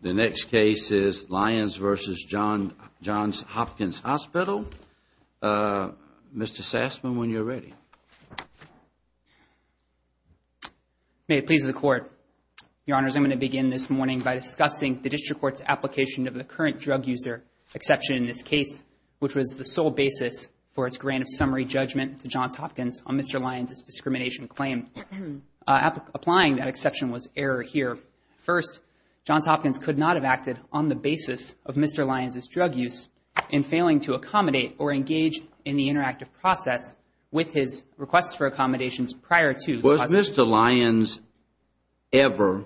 The next case is Lyons v. Johns Hopkins Hospital. Mr. Sassman, when you're ready. May it please the Court. Your Honors, I'm going to begin this morning by discussing the District Court's application of the current drug user exception in this case, which was the sole basis for its grant of summary judgment to Johns Hopkins on Mr. Lyons' discrimination. Applying that exception was error here. First, Johns Hopkins could not have acted on the basis of Mr. Lyons' drug use in failing to accommodate or engage in the interactive process with his requests for accommodations prior to. Was Mr. Lyons ever,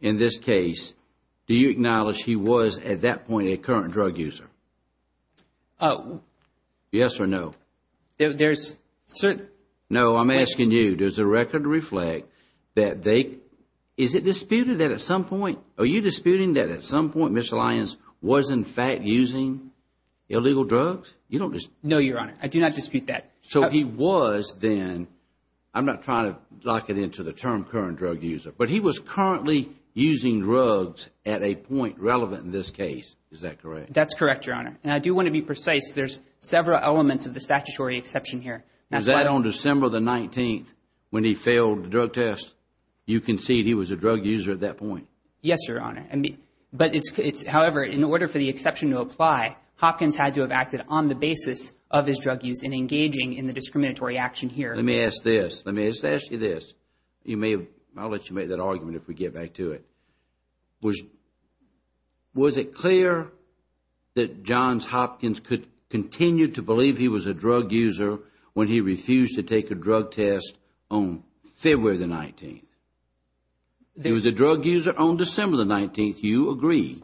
in this case, do you acknowledge he was at that point a current drug user? Yes or no? No, I'm asking you, does the record reflect that they, is it disputed that at some point, are you disputing that at some point Mr. Lyons was in fact using illegal drugs? No, Your Honor. I do not dispute that. So he was then, I'm not trying to lock it into the term current drug user, but he was currently using drugs at a point relevant in this case. Is that correct? That's correct, Your Honor. And I do want to be precise. There's several elements of the statutory exception here. Was that on December the 19th when he failed the drug test? You concede he was a drug user at that point? Yes, Your Honor. But it's, however, in order for the exception to apply, Hopkins had to have acted on the basis of his drug use in engaging in the discriminatory action here. Let me ask you this. I'll let you make that argument if we get back to it. Was it clear that Johns Hopkins could continue to believe he was a drug user when he refused to take a drug test on February the 19th? He was a drug user on December the 19th. You agree.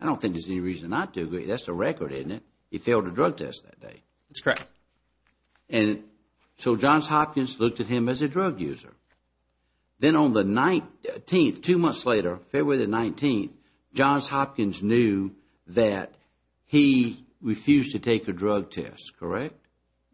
I don't think there's any reason not to agree. That's the record, isn't it? He failed a drug test that day. That's correct. And so Johns Hopkins looked at him as a drug user. Then on the 19th, two months later, February the 19th, Johns Hopkins knew that he refused to take a drug test, correct?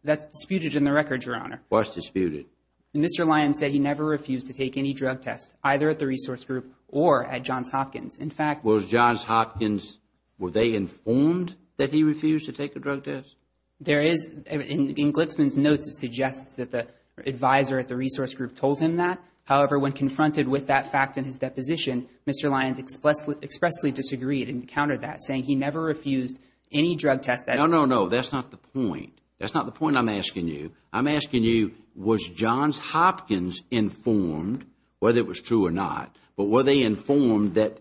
That's disputed in the record, Your Honor. What's disputed? Mr. Lyons said he never refused to take any drug test, either at the resource group or at Johns Hopkins. In fact, Was Johns Hopkins, were they informed that he refused to take a drug test? There is, in Glipsman's notes, it suggests that the advisor at the resource group told him that. However, when confronted with that fact in his deposition, Mr. Lyons expressly disagreed and countered that, saying he never refused any drug test. No, no, no. That's not the point. That's not the point I'm asking you. I'm asking you, was Johns Hopkins informed, whether it was true or not, but were they informed that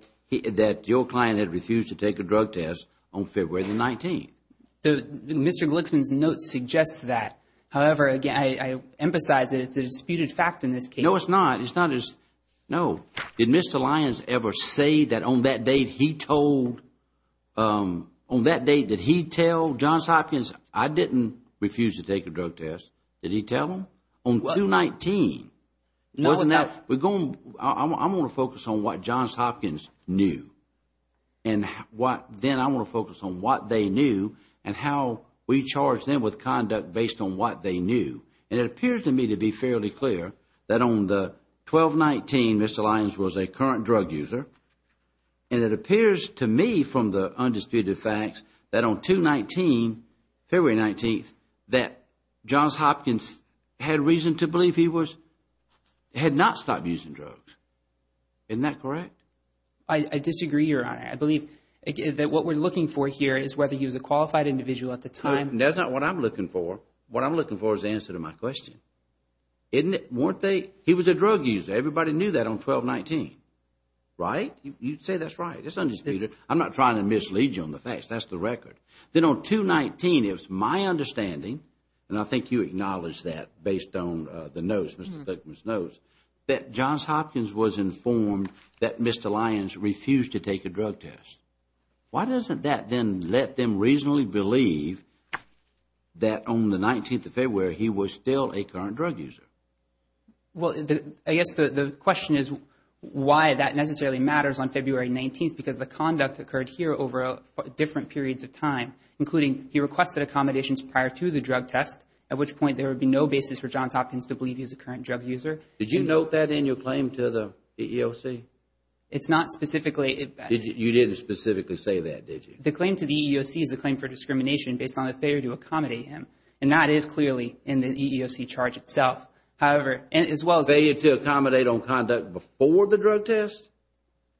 your client had refused to take a drug test on February the 19th? Mr. Glipsman's notes suggest that. However, again, I emphasize that it's a disputed fact in this case. No, it's not. It's not as, no. Did Mr. Lyons ever say that on that date he told, on that date did he tell Johns Hopkins, I didn't refuse to take a drug test, did he tell them? On 2-19. No, but But we're going, I want to focus on what Johns Hopkins knew and what, then I want to focus on what they knew and how we charge them with conduct based on what they knew. And it appears to me to be fairly clear that on the 12-19, Mr. Lyons was a current drug user. And it appears to me from the undisputed facts that on 2-19, February 19th, that Johns Hopkins had reason to believe he was, had not stopped using drugs. Isn't that correct? I disagree, Your Honor. I believe that what we're looking for here is whether he was a qualified individual at the time. That's not what I'm looking for. What I'm looking for is the answer to my question. Isn't it, weren't they, he was a drug user. Everybody knew that on 12-19. Right? You'd say that's right. It's undisputed. I'm not trying to mislead you on the facts. That's the record. Then on 2-19, it was my understanding, and I think you acknowledged that based on the notes, Mr. Thurman's notes, that Johns Hopkins was informed that Mr. Lyons refused to take a drug test. Why doesn't that then let them reasonably believe that on the 19th of February, he was still a current drug user? Well, I guess the question is why that necessarily matters on February 19th, because the conduct occurred here over different periods of time, including he requested accommodations prior to the drug test, at which point there would be no basis for Johns Hopkins to believe he was a current drug user. Did you note that in your claim to the EEOC? It's not specifically. You didn't specifically say that, did you? The claim to the EEOC is a claim for discrimination based on a failure to accommodate him, and that is clearly in the EEOC charge itself. However, as well as- Failure to accommodate on conduct before the drug test?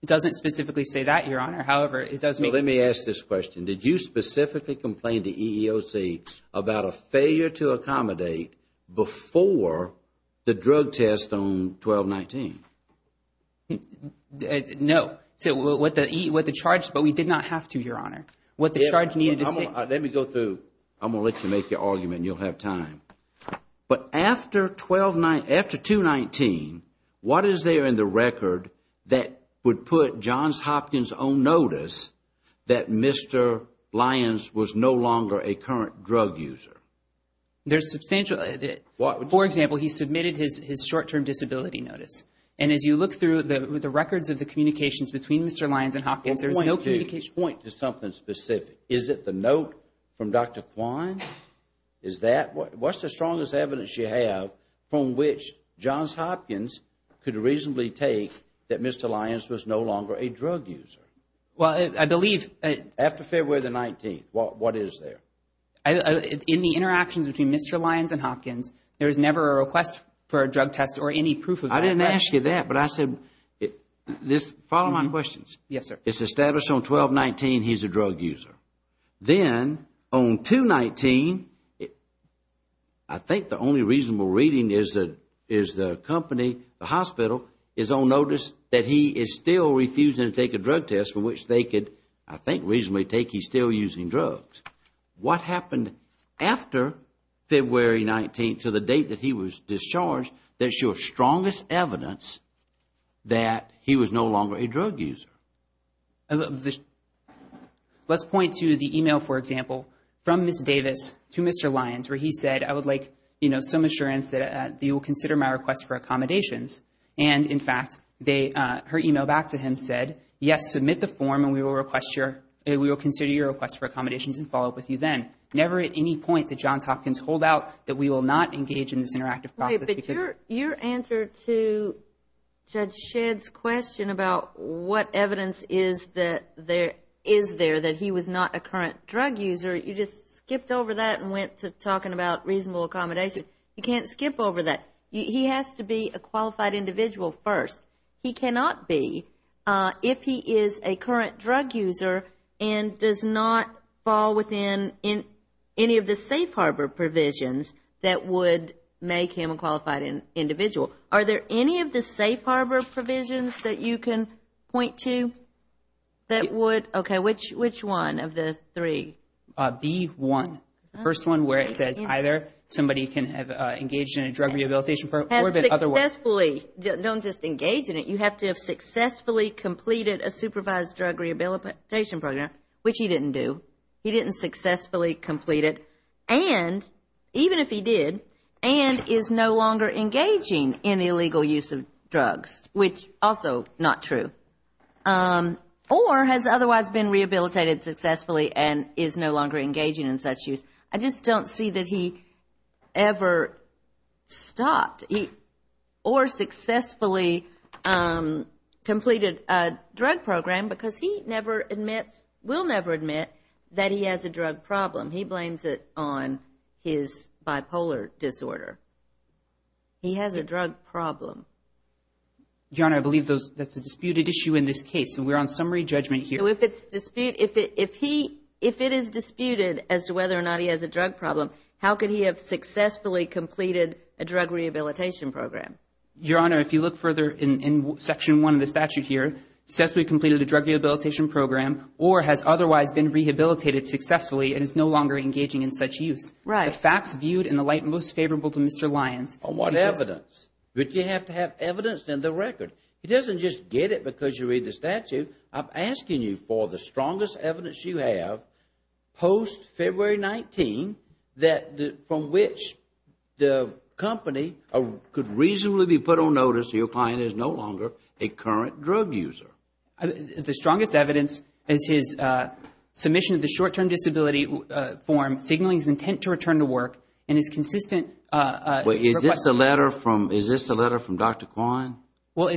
It doesn't specifically say that, Your Honor. However, it does make- So let me ask this question. Did you specifically complain to EEOC about a failure to accommodate before the drug test on 12-19? No. What the charge, but we did not have to, Your Honor. What the charge needed to say- Let me go through. I'm going to let you make your argument and you'll have time. But after 2-19, what is there in the record that would put Johns Hopkins on notice that Mr. Lyons was no longer a current drug user? There's substantial- For example, he submitted his short-term disability notice. And as you look through the records of the communications between Mr. Lyons and Hopkins, there's no communication- Point to something specific. Is it the note from Dr. Kwan? Is that- What's the strongest evidence you have from which Johns Hopkins could reasonably take that Mr. Lyons was no longer a drug user? Well, I believe- After February the 19th, what is there? In the interactions between Mr. Lyons and Hopkins, there was never a request for a drug test or any proof of that. I didn't ask you that, but I said this- Follow my questions. Yes, sir. It's established on 12-19 he's a drug user. Then on 2-19, I think the only reasonable reading is the company, the hospital, is on notice that he is still refusing to take a drug test for which they could, I think, reasonably take he's still using drugs. What happened after February 19th to the date that he was discharged that's your strongest evidence that he was no longer a drug user? Let's point to the email, for example, from Ms. Davis to Mr. Lyons where he said, I would like some assurance that you will consider my request for accommodations. In fact, her email back to him said, yes, submit the form and we will consider your request for accommodations and follow up with you then. Never at any point did Johns Hopkins hold out that we will not engage in this interactive process because- The evidence is there that he was not a current drug user. You just skipped over that and went to talking about reasonable accommodation. You can't skip over that. He has to be a qualified individual first. He cannot be if he is a current drug user and does not fall within any of the safe harbor provisions that would make him a qualified individual. Are there any of the safe harbor provisions that you can point to that would- Okay, which one of the three? B1, the first one where it says either somebody can have engaged in a drug rehabilitation program or the other one. Don't just engage in it. You have to have successfully completed a supervised drug rehabilitation program, which he didn't do. And even if he did and is no longer engaging in illegal use of drugs, which also not true, or has otherwise been rehabilitated successfully and is no longer engaging in such use. I just don't see that he ever stopped or successfully completed a drug program because he never admits, will never admit that he has a drug problem. He blames it on his bipolar disorder. He has a drug problem. Your Honor, I believe that's a disputed issue in this case, and we're on summary judgment here. So if it's disputed, if he, if it is disputed as to whether or not he has a drug problem, how could he have successfully completed a drug rehabilitation program? Your Honor, if you look further in Section 1 of the statute here, says we've completed a drug rehabilitation program or has otherwise been rehabilitated successfully and is no longer engaging in such use. Right. The facts viewed in the light most favorable to Mr. Lyons- On what evidence? But you have to have evidence in the record. He doesn't just get it because you read the statute. I'm asking you for the strongest evidence you have post-February 19 that from which the company could reasonably be put on notice that your client is no longer a current drug user. The strongest evidence is his submission of the short-term disability form signaling his intent to return to work and his consistent- Is this a letter from, is this a letter from Dr. Kwan? Well,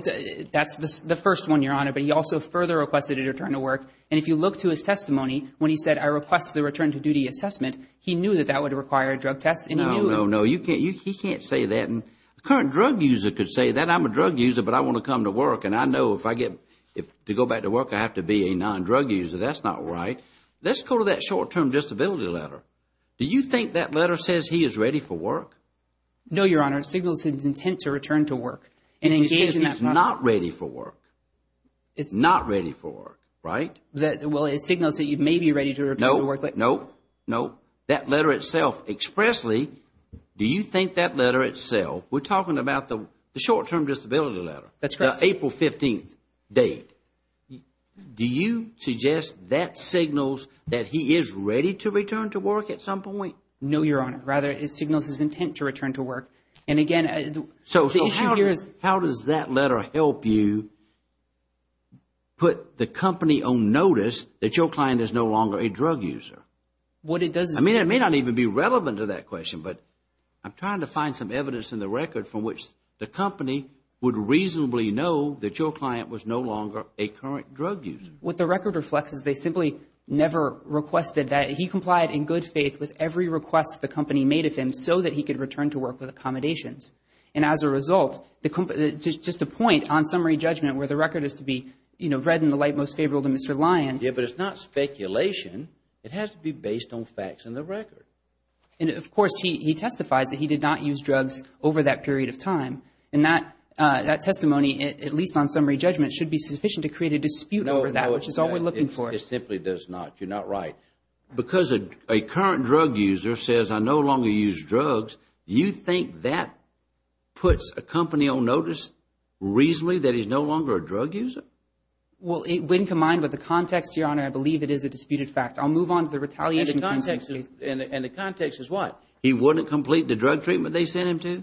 that's the first one, Your Honor. But he also further requested a return to work. And if you look to his testimony when he said, I request the return to duty assessment, he knew that that would require a drug test and he knew- No, no, no. He can't say that. A current drug user could say that. I'm a drug user, but I want to come to work. And I know if I get, to go back to work, I have to be a non-drug user. That's not right. Let's go to that short-term disability letter. Do you think that letter says he is ready for work? No, Your Honor. It signals his intent to return to work. And he's not ready for work. It's not ready for work, right? Well, it signals that he may be ready to return to work. No, no, no. That letter itself expressly, do you think that letter itself, we're talking about the short-term disability letter. That's correct. April 15th date. Do you suggest that signals that he is ready to return to work at some point? No, Your Honor. Rather, it signals his intent to return to work. And again, the issue here is. So how does that letter help you put the company on notice that your client is no longer a drug user? What it does is. I mean, it may not even be relevant to that question, but I'm trying to find some evidence in the record from which the company would reasonably know that your client was no longer a current drug user. What the record reflects is they simply never requested that. He complied in good faith with every request the company made of him so that he could return to work with accommodations. And as a result, just a point on summary judgment where the record is to be read in the light most favorable to Mr. Lyons. Yeah, but it's not speculation. It has to be based on facts in the record. And, of course, he testifies that he did not use drugs over that period of time. And that testimony, at least on summary judgment, should be sufficient to create a dispute over that, which is all we're looking for. It simply does not. You're not right. Because a current drug user says, I no longer use drugs, you think that puts a company on notice reasonably that he's no longer a drug user? Well, when combined with the context, Your Honor, I believe it is a disputed fact. I'll move on to the retaliation. And the context is what? He wouldn't complete the drug treatment they sent him to?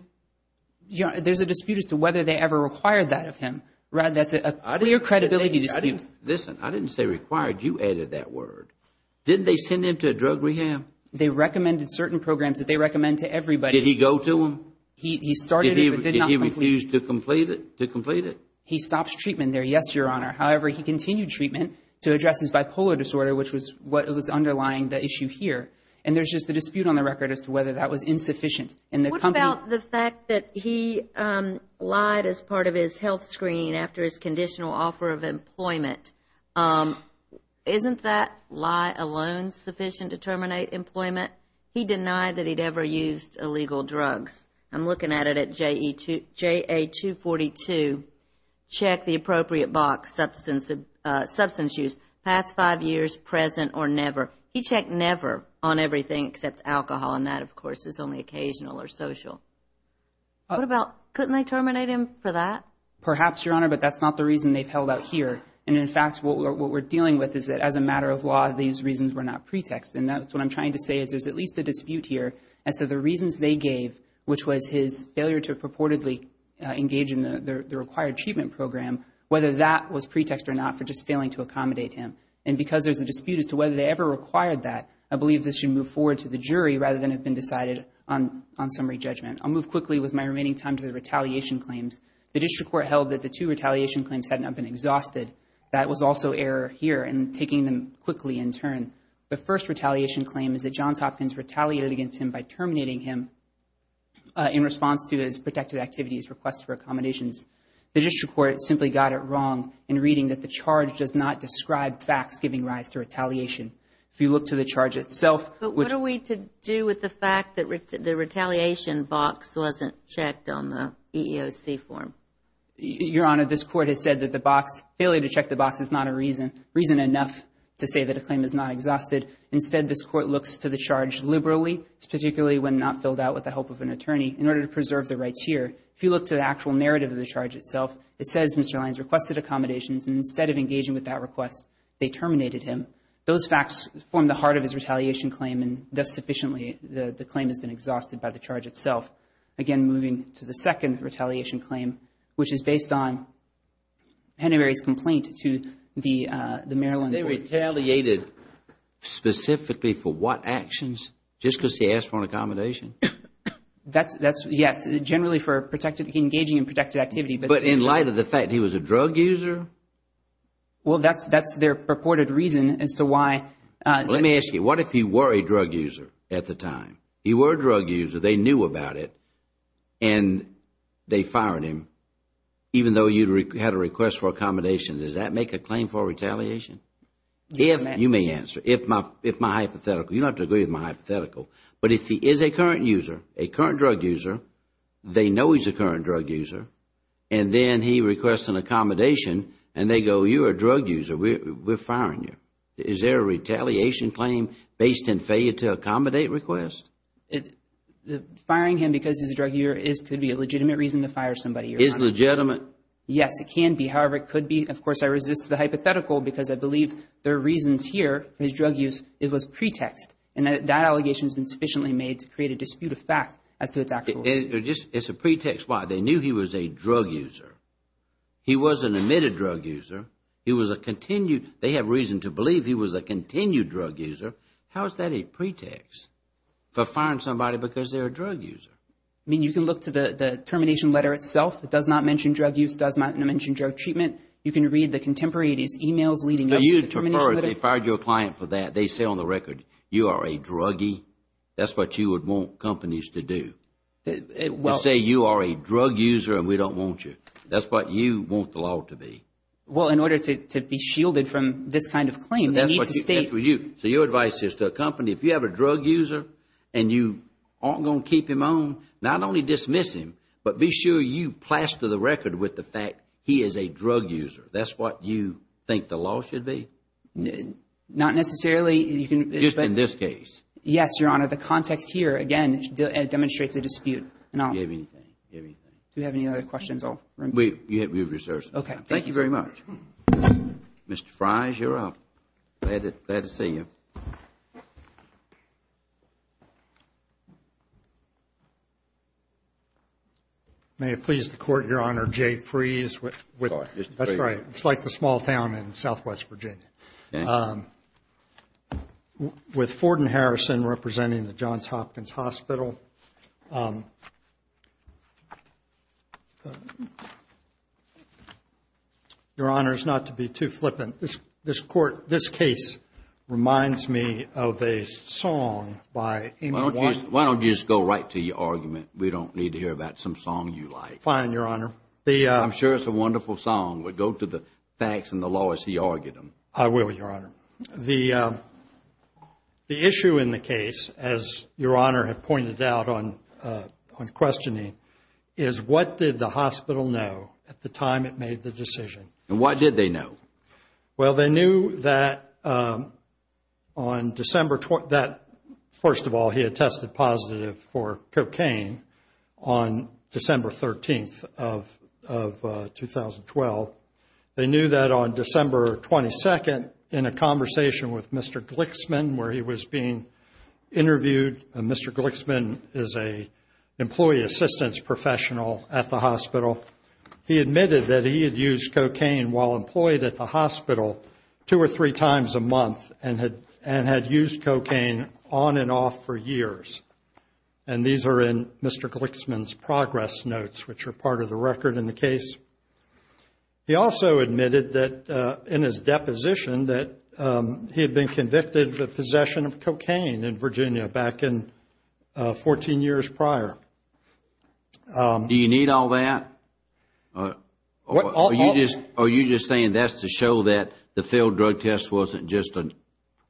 There's a dispute as to whether they ever required that of him. Rather, that's a clear credibility dispute. Listen, I didn't say required. You added that word. Didn't they send him to a drug rehab? They recommended certain programs that they recommend to everybody. Did he go to them? He started it but did not complete it. Did he refuse to complete it? He stops treatment there, yes, Your Honor. However, he continued treatment to address his bipolar disorder, which was what was underlying the issue here. And there's just a dispute on the record as to whether that was insufficient. What about the fact that he lied as part of his health screening after his conditional offer of employment? Isn't that lie alone sufficient to terminate employment? He denied that he'd ever used illegal drugs. I'm looking at it at JA-242, check the appropriate box, substance use, past five years, present or never. He checked never on everything except alcohol, and that, of course, is only occasional or social. What about couldn't they terminate him for that? Perhaps, Your Honor, but that's not the reason they've held out here. And, in fact, what we're dealing with is that as a matter of law, these reasons were not pretext. And that's what I'm trying to say is there's at least a dispute here as to the reasons they gave, which was his failure to purportedly engage in the required treatment program, whether that was pretext or not for just failing to accommodate him. And because there's a dispute as to whether they ever required that, I believe this should move forward to the jury rather than have been decided on summary judgment. I'll move quickly with my remaining time to the retaliation claims. The district court held that the two retaliation claims had not been exhausted. That was also error here in taking them quickly in turn. The first retaliation claim is that Johns Hopkins retaliated against him by terminating him in response to his protected activities request for accommodations. The district court simply got it wrong in reading that the charge does not describe facts giving rise to retaliation. If you look to the charge itself. But what are we to do with the fact that the retaliation box wasn't checked on the EEOC form? Your Honor, this court has said that the box, failure to check the box is not a reason, reason enough to say that a claim is not exhausted. Instead, this court looks to the charge liberally, particularly when not filled out with the help of an attorney, in order to preserve the rights here. If you look to the actual narrative of the charge itself, it says Mr. Lyons requested accommodations and instead of engaging with that request, they terminated him. Those facts form the heart of his retaliation claim and thus sufficiently, the claim has been exhausted by the charge itself. Again, moving to the second retaliation claim, which is based on Henry Berry's complaint to the Maryland court. They retaliated specifically for what actions? Just because he asked for an accommodation? Yes, generally for engaging in protected activity. But in light of the fact he was a drug user? Well, that's their purported reason as to why. Let me ask you. What if he were a drug user at the time? He were a drug user. They knew about it and they fired him, even though you had a request for accommodation. Does that make a claim for retaliation? If my hypothetical. You don't have to agree with my hypothetical. But if he is a current user, a current drug user, they know he's a current drug user, and then he requests an accommodation and they go, you're a drug user, we're firing you. Is there a retaliation claim based on failure to accommodate request? Firing him because he's a drug user could be a legitimate reason to fire somebody. Is it legitimate? Yes, it can be. However, it could be, of course, I resist the hypothetical because I believe there are reasons here. His drug use, it was a pretext. And that allegation has been sufficiently made to create a dispute of fact as to its actual use. It's a pretext. Why? They knew he was a drug user. He was an admitted drug user. He was a continued, they have reason to believe he was a continued drug user. How is that a pretext for firing somebody because they're a drug user? I mean, you can look to the termination letter itself. It does not mention drug use. You can read the contemporaneous emails leading up to the termination letter. They fired you a client for that. They say on the record you are a druggie. That's what you would want companies to do. To say you are a drug user and we don't want you. That's what you want the law to be. Well, in order to be shielded from this kind of claim, we need to state. So your advice is to a company, if you have a drug user and you aren't going to keep him on, not only dismiss him, but be sure you plaster the record with the fact he is a drug user. That's what you think the law should be? Not necessarily. Just in this case? Yes, Your Honor. The context here, again, demonstrates a dispute. Do you have any other questions? We have resources. Okay. Thank you very much. Mr. Fries, you're up. Glad to see you. May it please the Court, Your Honor, Jay Fries. That's right. It's like the small town in southwest Virginia. With Ford and Harrison representing the Johns Hopkins Hospital. Your Honor, it's not to be too flippant. This case reminds me of a song by Amy Winehouse. Why don't you just go right to your argument? We don't need to hear about some song you like. Fine, Your Honor. I'm sure it's a wonderful song. We'll go to the facts and the law as he argued them. I will, Your Honor. The issue in the case, as Your Honor had pointed out on questioning, is what did the hospital know at the time it made the decision? And what did they know? Well, they knew that, first of all, he had tested positive for cocaine on December 13th of 2012. They knew that on December 22nd in a conversation with Mr. Glixman where he was being interviewed. Mr. Glixman is an employee assistance professional at the hospital. He admitted that he had used cocaine while employed at the hospital two or three times a month and had used cocaine on and off for years. And these are in Mr. Glixman's progress notes, which are part of the record in the case. He also admitted that in his deposition that he had been convicted of possession of cocaine in Virginia back in 14 years prior. Do you need all that? Are you just saying that's to show that the failed drug test wasn't just an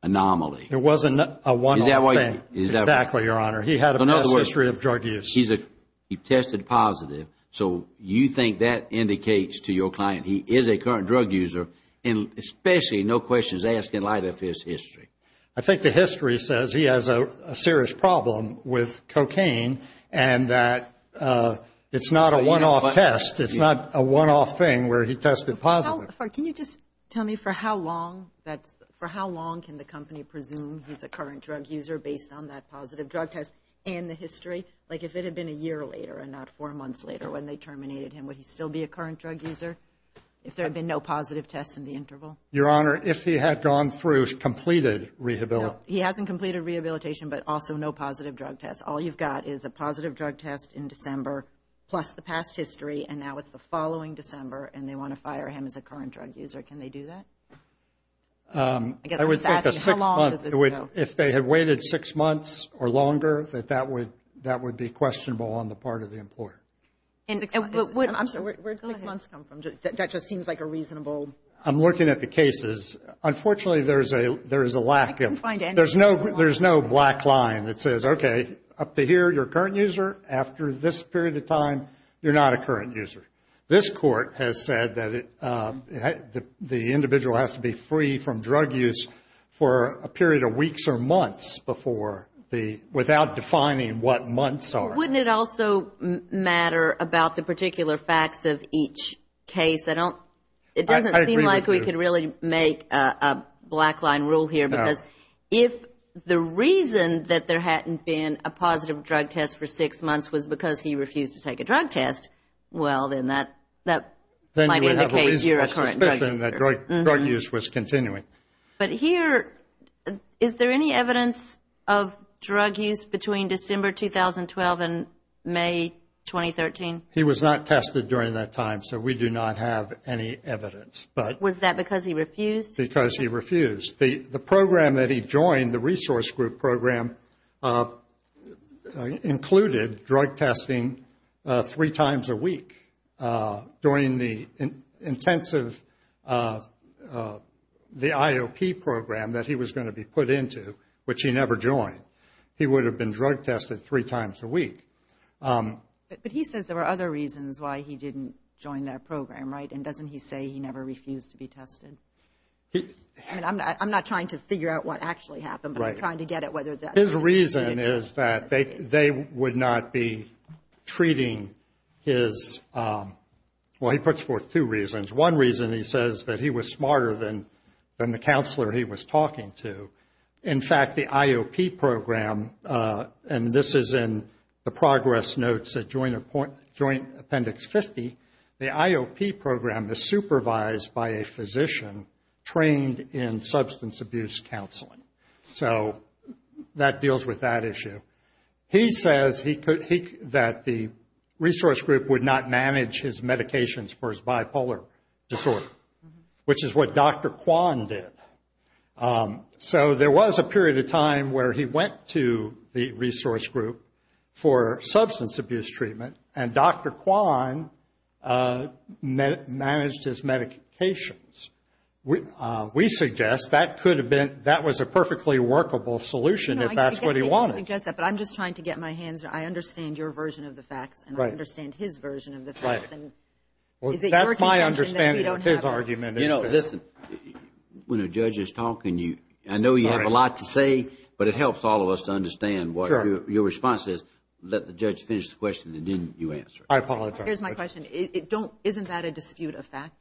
anomaly? It wasn't a one-off thing. Exactly, Your Honor. He had a past history of drug use. He tested positive. So you think that indicates to your client he is a current drug user, and especially no questions asked in light of his history. I think the history says he has a serious problem with cocaine and that it's not a one-off test. It's not a one-off thing where he tested positive. Can you just tell me for how long can the company presume he's a current drug user based on that positive drug test and the history? Like if it had been a year later and not four months later when they terminated him, would he still be a current drug user if there had been no positive tests in the interval? Your Honor, if he had gone through completed rehabilitation. He hasn't completed rehabilitation but also no positive drug tests. All you've got is a positive drug test in December plus the past history, and now it's the following December, and they want to fire him as a current drug user. Can they do that? I guess I was asking how long does this go? If they had waited six months or longer, that would be questionable on the part of the employer. Where did six months come from? That just seems like a reasonable. I'm looking at the cases. Unfortunately, there is a lack of. There's no black line that says, okay, up to here, you're a current user. After this period of time, you're not a current user. This Court has said that the individual has to be free from drug use for a period of weeks or months without defining what months are. Wouldn't it also matter about the particular facts of each case? It doesn't seem like we could really make a black line rule here because if the reason that there hadn't been a positive drug test for six months was because he refused to take a drug test, well, then that might indicate you're a current drug user. Then you have a reasonable suspicion that drug use was continuing. But here, is there any evidence of drug use between December 2012 and May 2013? He was not tested during that time, so we do not have any evidence. Was that because he refused? Because he refused. The program that he joined, the resource group program, included drug testing three times a week during the intensive IOP program that he was going to be put into, which he never joined. He would have been drug tested three times a week. But he says there were other reasons why he didn't join that program, right? And doesn't he say he never refused to be tested? I mean, I'm not trying to figure out what actually happened, but I'm trying to get at whether that's true. His reason is that they would not be treating his—well, he puts forth two reasons. One reason, he says that he was smarter than the counselor he was talking to. In fact, the IOP program, and this is in the progress notes at Joint Appendix 50, the IOP program is supervised by a physician trained in substance abuse counseling. So that deals with that issue. He says that the resource group would not manage his medications for his bipolar disorder, which is what Dr. Kwan did. So there was a period of time where he went to the resource group for substance abuse treatment, and Dr. Kwan managed his medications. We suggest that could have been—that was a perfectly workable solution if that's what he wanted. I get that you suggest that, but I'm just trying to get my hands—I understand your version of the facts. Right. And I understand his version of the facts. Right. And is it your contention that we don't have that? Well, that's my understanding of his argument. You know, listen, when a judge is talking, I know you have a lot to say, but it helps all of us to understand what your response is. Let the judge finish the question, and then you answer it. I apologize. Here's my question. Isn't that a dispute of fact?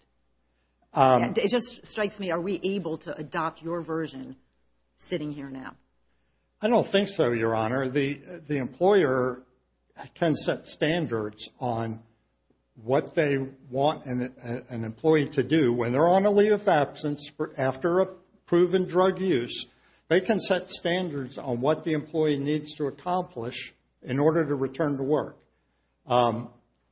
It just strikes me. Are we able to adopt your version sitting here now? I don't think so, Your Honor. The employer can set standards on what they want an employee to do. When they're on a leave of absence after a proven drug use, they can set standards on what the employee needs to accomplish in order to return to work.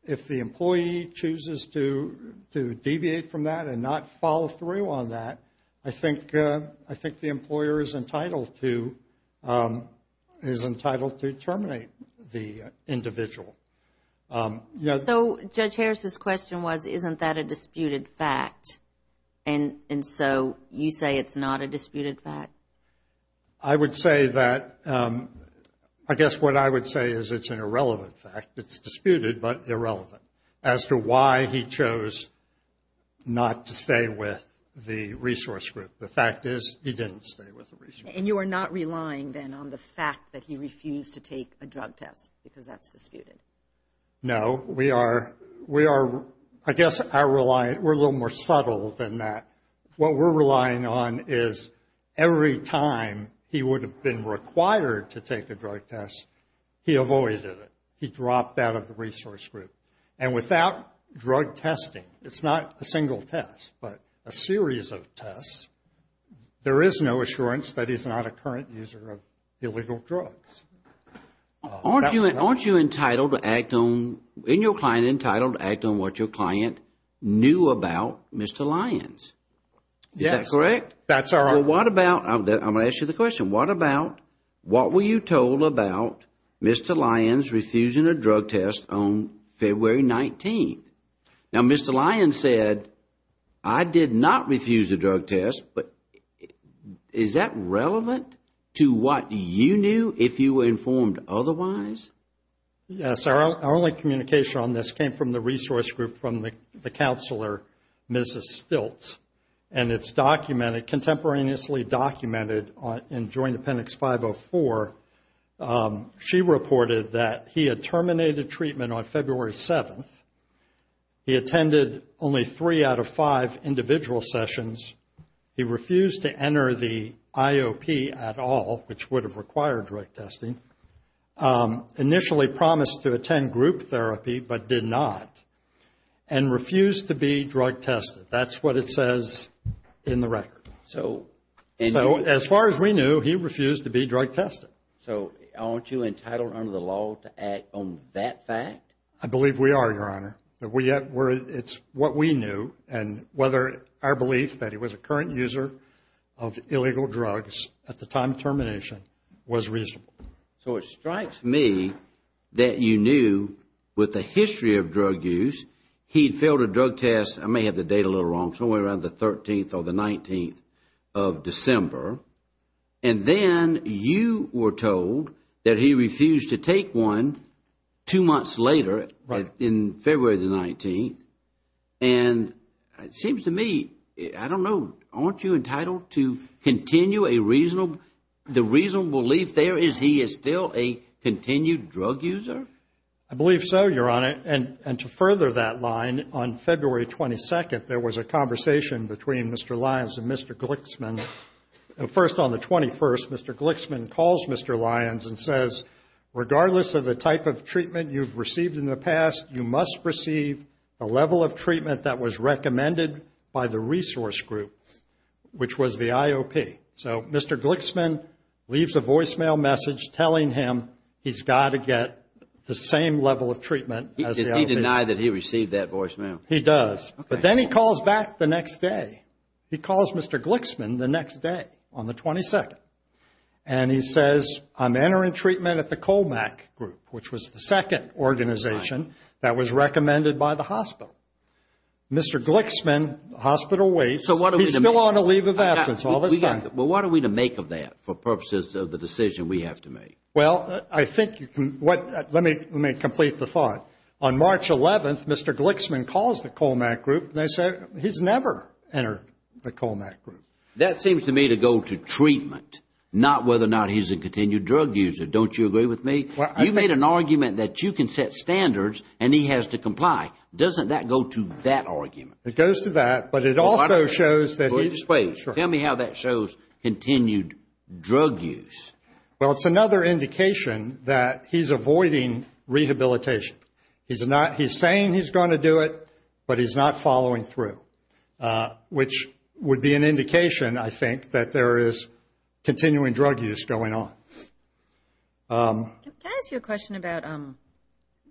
If the employee chooses to deviate from that and not follow through on that, I think the employer is entitled to terminate the individual. So Judge Harris' question was, isn't that a disputed fact? And so you say it's not a disputed fact? I would say that, I guess what I would say is it's an irrelevant fact. It's disputed but irrelevant as to why he chose not to stay with the resource group. The fact is he didn't stay with the resource group. And you are not relying then on the fact that he refused to take a drug test because that's disputed? No. I guess we're a little more subtle than that. What we're relying on is every time he would have been required to take a drug test, he avoided it. He dropped out of the resource group. And without drug testing, it's not a single test, but a series of tests, there is no assurance that he's not a current user of illegal drugs. Aren't you entitled to act on, isn't your client entitled to act on what your client knew about Mr. Lyons? Yes. Is that correct? That's correct. Well, what about, I'm going to ask you the question, what about, what were you told about Mr. Lyons refusing a drug test on February 19th? Now, Mr. Lyons said, I did not refuse a drug test. But is that relevant to what you knew if you were informed otherwise? Yes. Our only communication on this came from the resource group from the counselor, Mrs. Stiltz. And it's documented, contemporaneously documented in Joint Appendix 504. She reported that he had terminated treatment on February 7th. He attended only three out of five individual sessions. He refused to enter the IOP at all, which would have required drug testing. Initially promised to attend group therapy, but did not. And refused to be drug tested. That's what it says in the record. So, as far as we knew, he refused to be drug tested. So, aren't you entitled under the law to act on that fact? I believe we are, Your Honor. It's what we knew, and whether our belief that he was a current user of illegal drugs at the time of termination was reasonable. So, it strikes me that you knew with the history of drug use, he had failed a drug test, I may have the date a little wrong, somewhere around the 13th or the 19th of December. And then you were told that he refused to take one two months later, in February the 19th. And it seems to me, I don't know, aren't you entitled to continue a reasonable, the reasonable belief there is he is still a continued drug user? I believe so, Your Honor. And to further that line, on February 22nd, there was a conversation between Mr. Lyons and Mr. Glixman. First, on the 21st, Mr. Glixman calls Mr. Lyons and says, regardless of the type of treatment you've received in the past, you must receive a level of treatment that was recommended by the resource group, which was the IOP. So, Mr. Glixman leaves a voicemail message telling him he's got to get the same level of treatment as the IOP. Does he deny that he received that voicemail? He does. But then he calls back the next day. He calls Mr. Glixman the next day, on the 22nd. And he says, I'm entering treatment at the COMAC group, which was the second organization that was recommended by the hospital. Mr. Glixman, the hospital waits. He's still on a leave of absence all this time. Well, what are we to make of that for purposes of the decision we have to make? Well, I think you can – let me complete the thought. On March 11th, Mr. Glixman calls the COMAC group, and they say he's never entered the COMAC group. That seems to me to go to treatment, not whether or not he's a continued drug user. Don't you agree with me? You made an argument that you can set standards and he has to comply. Doesn't that go to that argument? It goes to that, but it also shows that he's – Wait, tell me how that shows continued drug use. Well, it's another indication that he's avoiding rehabilitation. He's saying he's going to do it, but he's not following through, which would be an indication, I think, that there is continuing drug use going on. Can I ask you a question about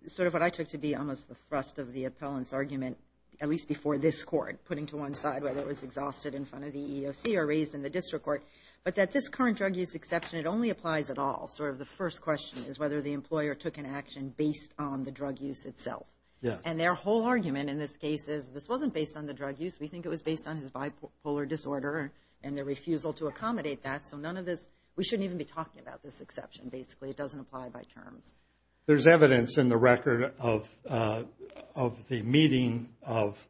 sort of what I took to be almost the thrust of the appellant's argument, at least before this court, putting to one side whether it was exhausted in front of the EEOC or raised in the district court, but that this current drug use exception, it only applies at all. Sort of the first question is whether the employer took an action based on the drug use itself. And their whole argument in this case is this wasn't based on the drug use. We think it was based on his bipolar disorder and the refusal to accommodate that. So none of this – we shouldn't even be talking about this exception, basically. It doesn't apply by terms. There's evidence in the record of the meeting of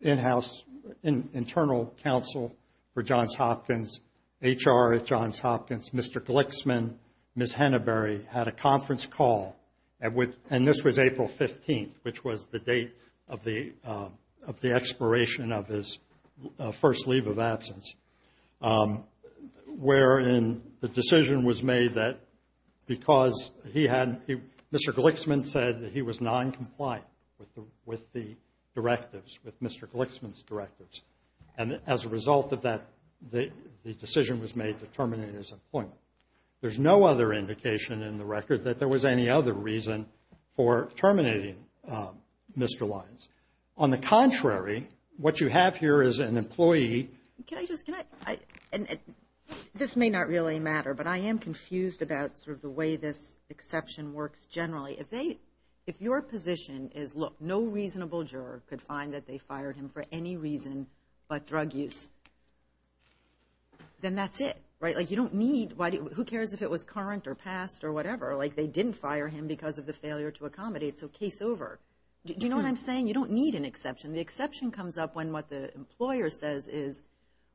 in-house, internal counsel for Johns Hopkins, HR at Johns Hopkins. Mr. Glixman, Ms. Henneberry had a conference call, and this was April 15th, which was the date of the expiration of his first leave of absence, wherein the decision was made that because he hadn't – Mr. Glixman said that he was noncompliant with the directives, with Mr. Glixman's directives. And as a result of that, the decision was made to terminate his employment. There's no other indication in the record that there was any other reason for terminating Mr. Lyons. On the contrary, what you have here is an employee. Can I just – this may not really matter, but I am confused about sort of the way this exception works generally. If your position is, look, no reasonable juror could find that they fired him for any reason but drug use, then that's it, right? Like you don't need – who cares if it was current or past or whatever? Like they didn't fire him because of the failure to accommodate, so case over. Do you know what I'm saying? You don't need an exception. The exception comes up when what the employer says is,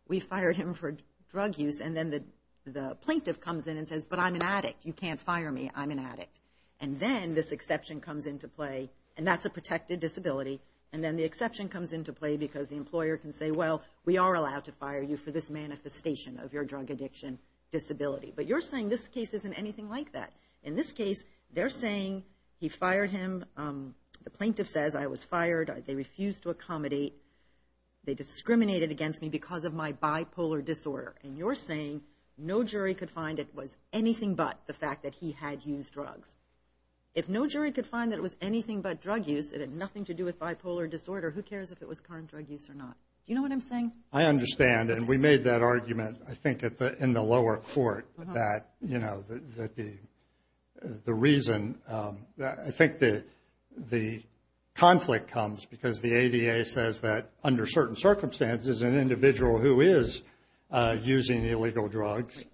we fired him for drug use, and then the plaintiff comes in and says, but I'm an addict. You can't fire me. I'm an addict. And then this exception comes into play, and that's a protected disability, and then the exception comes into play because the employer can say, well, we are allowed to fire you for this manifestation of your drug addiction disability. But you're saying this case isn't anything like that. In this case, they're saying he fired him. The plaintiff says, I was fired. They refused to accommodate. They discriminated against me because of my bipolar disorder. And you're saying no jury could find it was anything but the fact that he had used drugs. If no jury could find that it was anything but drug use, it had nothing to do with bipolar disorder, who cares if it was current drug use or not? Do you know what I'm saying? I understand, and we made that argument, I think, in the lower court that, you know, that the reason – I think the conflict comes because the ADA says that someone who's not using illegal drugs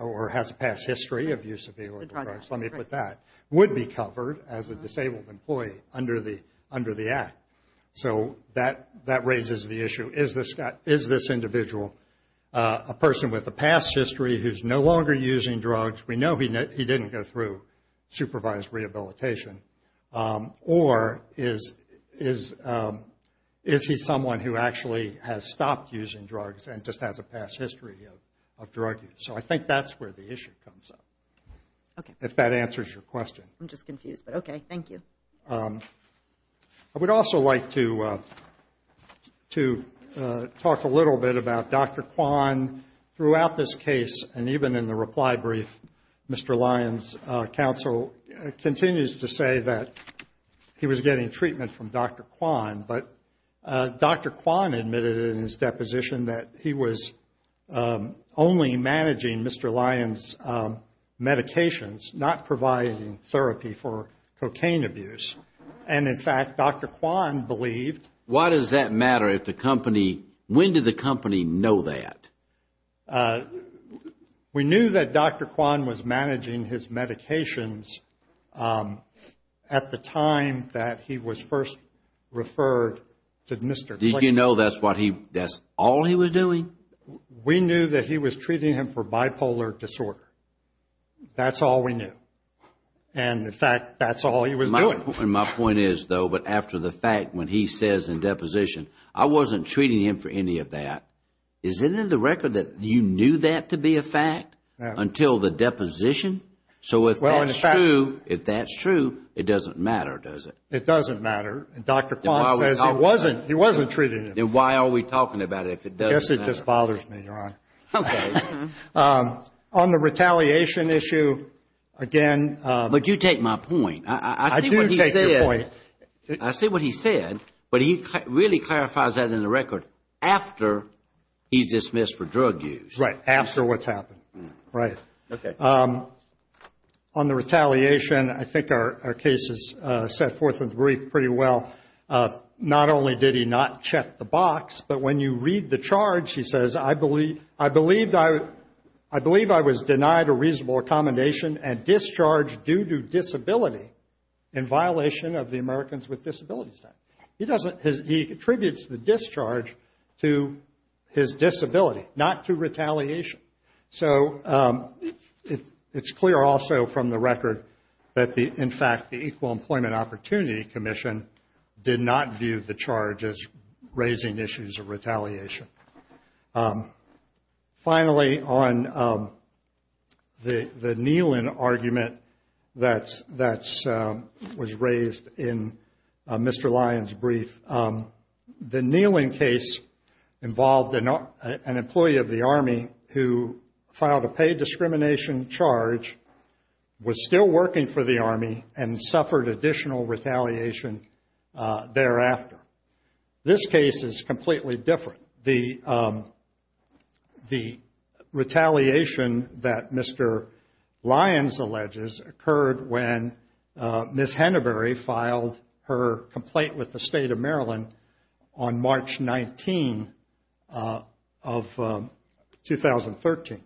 or has a past history of use of illegal drugs, let me put that, would be covered as a disabled employee under the Act. So that raises the issue, is this individual a person with a past history who's no longer using drugs? We know he didn't go through supervised rehabilitation. Or is he someone who actually has stopped using drugs and just has a past history of drug use? So I think that's where the issue comes up, if that answers your question. I'm just confused, but okay, thank you. I would also like to talk a little bit about Dr. Kwan. Throughout this case, and even in the reply brief, Mr. Lyons' counsel continues to say that he was getting treatment from Dr. Kwan, but Dr. Kwan admitted in his deposition that he was only managing Mr. Lyons' medications, not providing therapy for cocaine abuse. And, in fact, Dr. Kwan believed. Why does that matter if the company, when did the company know that? We knew that Dr. Kwan was managing his medications at the time that he was first referred to Mr. Lyons. Did you know that's what he, that's all he was doing? We knew that he was treating him for bipolar disorder. That's all we knew. And, in fact, that's all he was doing. My point is, though, but after the fact, when he says in deposition, I wasn't treating him for any of that, is it in the record that you knew that to be a fact until the deposition? So if that's true, it doesn't matter, does it? It doesn't matter. Dr. Kwan says he wasn't treating him. Then why are we talking about it if it doesn't matter? I guess it just bothers me, Your Honor. Okay. On the retaliation issue, again. But you take my point. I do take your point. I see what he said, but he really clarifies that in the record after he's dismissed for drug use. Right. After what's happened. Right. Okay. On the retaliation, I think our case is set forth in the brief pretty well. Not only did he not check the box, but when you read the charge, he says, I believe I was denied a reasonable accommodation and discharged due to disability in violation of the Americans with Disabilities Act. He contributes the discharge to his disability, not to retaliation. So it's clear also from the record that, in fact, the Equal Employment Opportunity Commission did not view the charge as raising issues of retaliation. Finally, on the Nehlin argument that was raised in Mr. Lyon's brief, the Nehlin case involved an employee of the Army who filed a paid discrimination charge, was still working for the Army, and suffered additional retaliation thereafter. This case is completely different. The retaliation that Mr. Lyon alleges occurred when Ms. Hennebery filed her complaint with the State of Maryland on March 19 of 2013.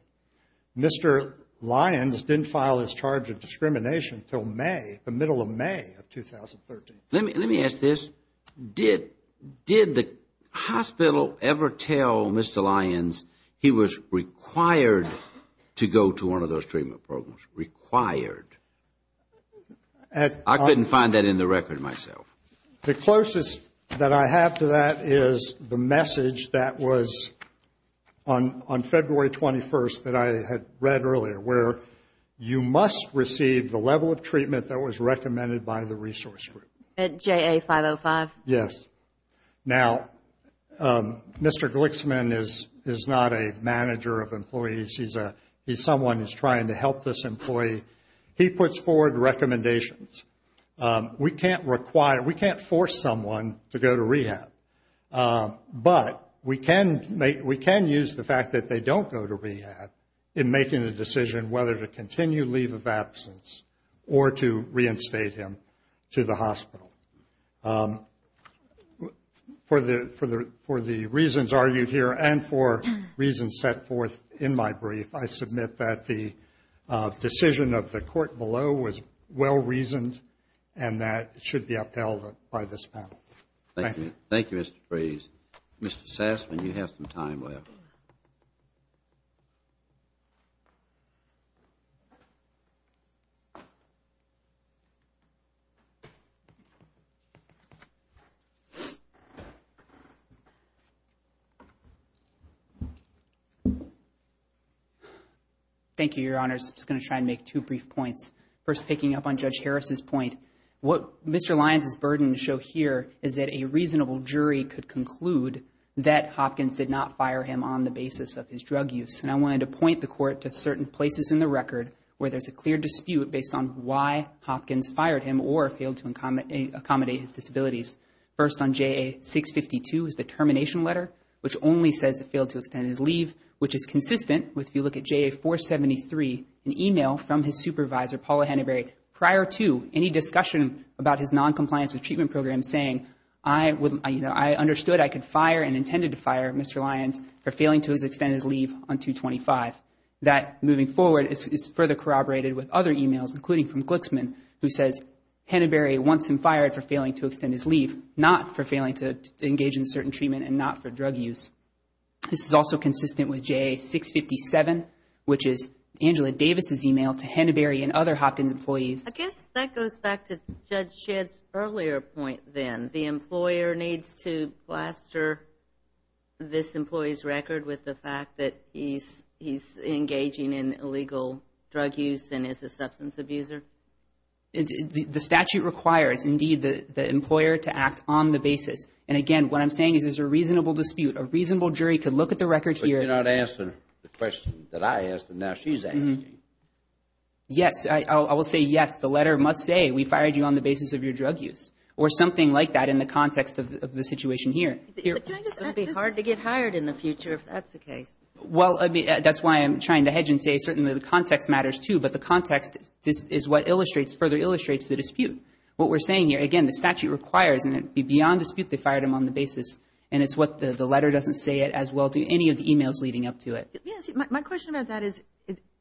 Mr. Lyon didn't file his charge of discrimination until May, the middle of May of 2013. Let me ask this. Did the hospital ever tell Mr. Lyon he was required to go to one of those treatment programs? Required? I couldn't find that in the record myself. The closest that I have to that is the message that was on February 21st that I had read earlier, where you must receive the level of treatment that was recommended by the resource group. At JA 505? Yes. Now, Mr. Glixman is not a manager of employees. He's someone who's trying to help this employee. He puts forward recommendations. We can't force someone to go to rehab, but we can use the fact that they don't go to rehab in making a decision whether to continue leave of absence or to reinstate him to the hospital. For the reasons argued here and for reasons set forth in my brief, I submit that the decision of the court below was well-reasoned and that it should be upheld by this panel. Thank you. Thank you, Mr. Fraze. Mr. Sassman, you have some time left. Thank you, Your Honors. I'm just going to try and make two brief points. First, picking up on Judge Harris's point, what Mr. Lyons' burdens show here is that a reasonable jury could conclude that Hopkins did not fire him on the basis of his drug use. And I wanted to point the court to certain places in the record where there's a clear dispute based on why Hopkins fired him or failed to accommodate his disabilities. First on JA 652 is the termination letter, which only says it failed to extend his leave, which is consistent with if you look at JA 473, an email from his supervisor, Paula Hannaberry, prior to any discussion about his noncompliance with treatment programs saying, I understood I could fire and intended to fire Mr. Lyons for failing to extend his leave on 225. That, moving forward, is further corroborated with other emails, including from Glixman, who says Hannaberry wants him fired for failing to extend his leave, not for failing to engage in certain treatment and not for drug use. This is also consistent with JA 657, which is Angela Davis' email to Hannaberry and other Hopkins employees. I guess that goes back to Judge Shedd's earlier point then. The employer needs to plaster this employee's record with the fact that he's engaging in illegal drug use and is a substance abuser. The statute requires, indeed, the employer to act on the basis. And, again, what I'm saying is there's a reasonable dispute. A reasonable jury could look at the record here. But you're not answering the question that I asked and now she's asking. Yes. I will say yes. The letter must say we fired you on the basis of your drug use or something like that in the context of the situation here. It would be hard to get hired in the future if that's the case. Well, that's why I'm trying to hedge and say certainly the context matters, too. But the context is what illustrates, further illustrates the dispute. What we're saying here, again, the statute requires and it would be beyond dispute they fired him on the basis. And it's what the letter doesn't say it as well do any of the emails leading up to it. Yes. My question about that is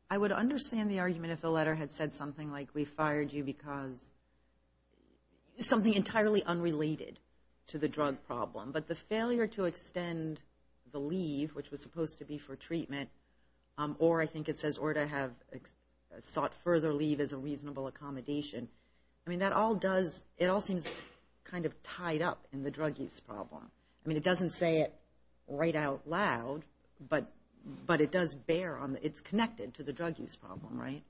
I would understand the argument if the letter had said something like we fired you because something entirely unrelated to the drug problem. But the failure to extend the leave, which was supposed to be for treatment, or I think it says or to have sought further leave as a reasonable accommodation. I mean, that all does, it all seems kind of tied up in the drug use problem. I mean, it doesn't say it right out loud, but it does bear on, it's connected to the drug use problem, right?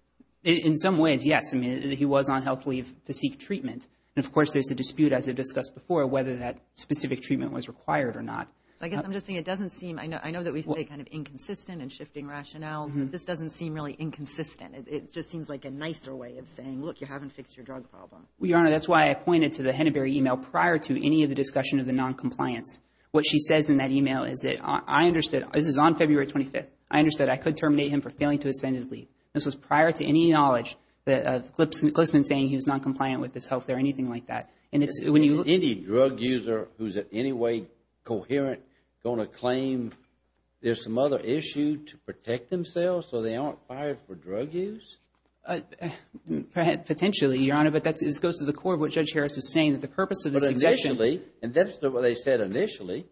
In some ways, yes. I mean, he was on health leave to seek treatment. And, of course, there's a dispute, as I discussed before, whether that specific treatment was required or not. So I guess I'm just saying it doesn't seem, I know that we say kind of inconsistent and shifting rationales, but this doesn't seem really inconsistent. It just seems like a nicer way of saying, look, you haven't fixed your drug problem. Well, Your Honor, that's why I pointed to the Henneberry email prior to any of the discussion of the noncompliance. What she says in that email is that I understood, this is on February 25th, I understood I could terminate him for failing to extend his leave. This was prior to any knowledge that Clipsman saying he was noncompliant with his health or anything like that. Any drug user who's in any way coherent going to claim there's some other issue to protect themselves so they aren't fired for drug use? Potentially, Your Honor, but this goes to the core of what Judge Harris was saying, that the purpose of the succession. But initially, and that's what they said initially,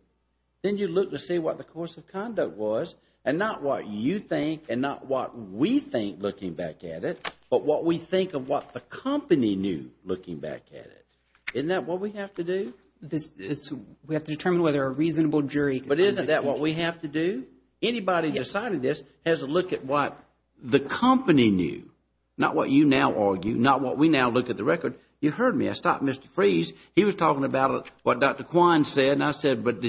then you look to see what the course of conduct was, and not what you think and not what we think looking back at it, but what we think of what the company knew looking back at it. Isn't that what we have to do? We have to determine whether a reasonable jury can come to this conclusion. But isn't that what we have to do? Anybody deciding this has to look at what the company knew, not what you now argue, not what we now look at the record. You heard me. I stopped Mr. Freeze. He was talking about what Dr. Quine said, and I said, but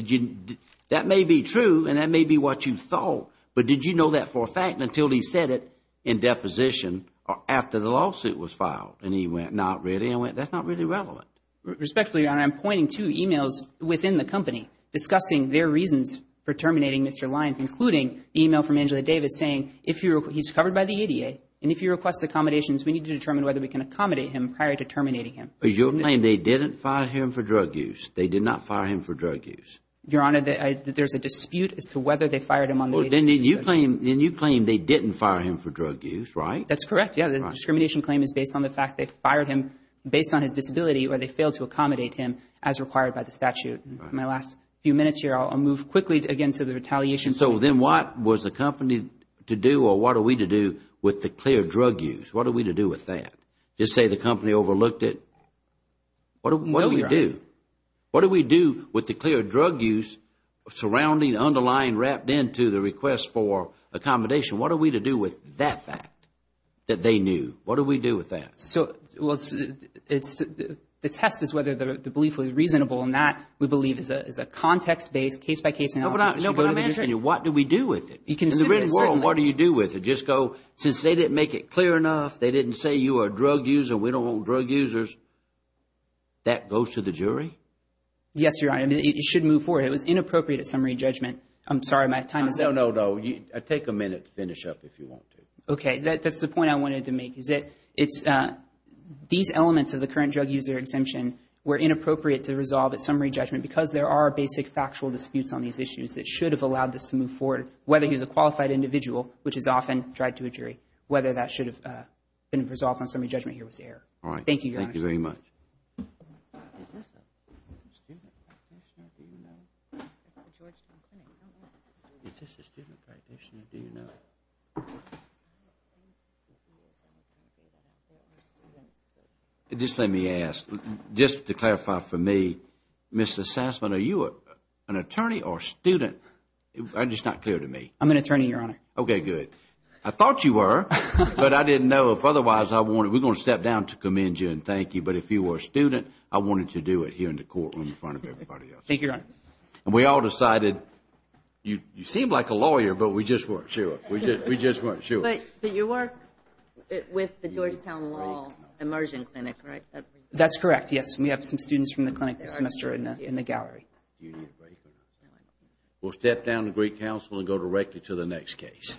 that may be true and that may be what you thought, but did you know that for a fact until he said it in deposition or after the lawsuit was filed? And he went, not really. I went, that's not really relevant. Respectfully, Your Honor, I'm pointing to emails within the company discussing their reasons for terminating Mr. Lyons, including the email from Angela Davis saying he's covered by the ADA, and if he requests accommodations, we need to determine whether we can accommodate him prior to terminating him. But you're saying they didn't fire him for drug use? They did not fire him for drug use? Your Honor, there's a dispute as to whether they fired him on the basis of his drug use. Then you claim they didn't fire him for drug use, right? That's correct, yes. The discrimination claim is based on the fact they fired him based on his disability or they failed to accommodate him as required by the statute. My last few minutes here, I'll move quickly again to the retaliation. So then what was the company to do or what are we to do with the clear drug use? What are we to do with that? Just say the company overlooked it? No, Your Honor. What do we do? What do we do with the clear drug use surrounding, underlying, wrapped into the request for accommodation? What are we to do with that fact that they knew? What do we do with that? Well, the test is whether the belief was reasonable. And that, we believe, is a context-based, case-by-case analysis. No, but I'm answering you. What do we do with it? In the real world, what do you do with it? Just go, since they didn't make it clear enough, they didn't say you are a drug user, we don't want drug users, that goes to the jury? Yes, Your Honor. It should move forward. It was inappropriate at summary judgment. I'm sorry, my time is up. No, no, no. Take a minute to finish up if you want to. Okay. That's the point I wanted to make. These elements of the current drug user exemption were inappropriate to resolve at summary judgment because there are basic factual disputes on these issues that should have allowed this to move forward, whether he was a qualified individual, which is often tried to a jury, whether that should have been resolved on summary judgment here was error. All right. Thank you, Your Honor. Thank you very much. Just let me ask, just to clarify for me, Mr. Sassman, are you an attorney or a student? It's just not clear to me. I'm an attorney, Your Honor. Okay, good. I thought you were, but I didn't know. We're going to step down to commend you and thank you, but if you were a student, I wanted to do it here in the courtroom in front of everybody else. Thank you, Your Honor. And we all decided, you seem like a lawyer, but we just weren't sure. We just weren't sure. But you work with the Georgetown Law Immersion Clinic, right? That's correct, yes. We have some students from the clinic this semester in the gallery. We'll step down to Greek Council and go directly to the next case.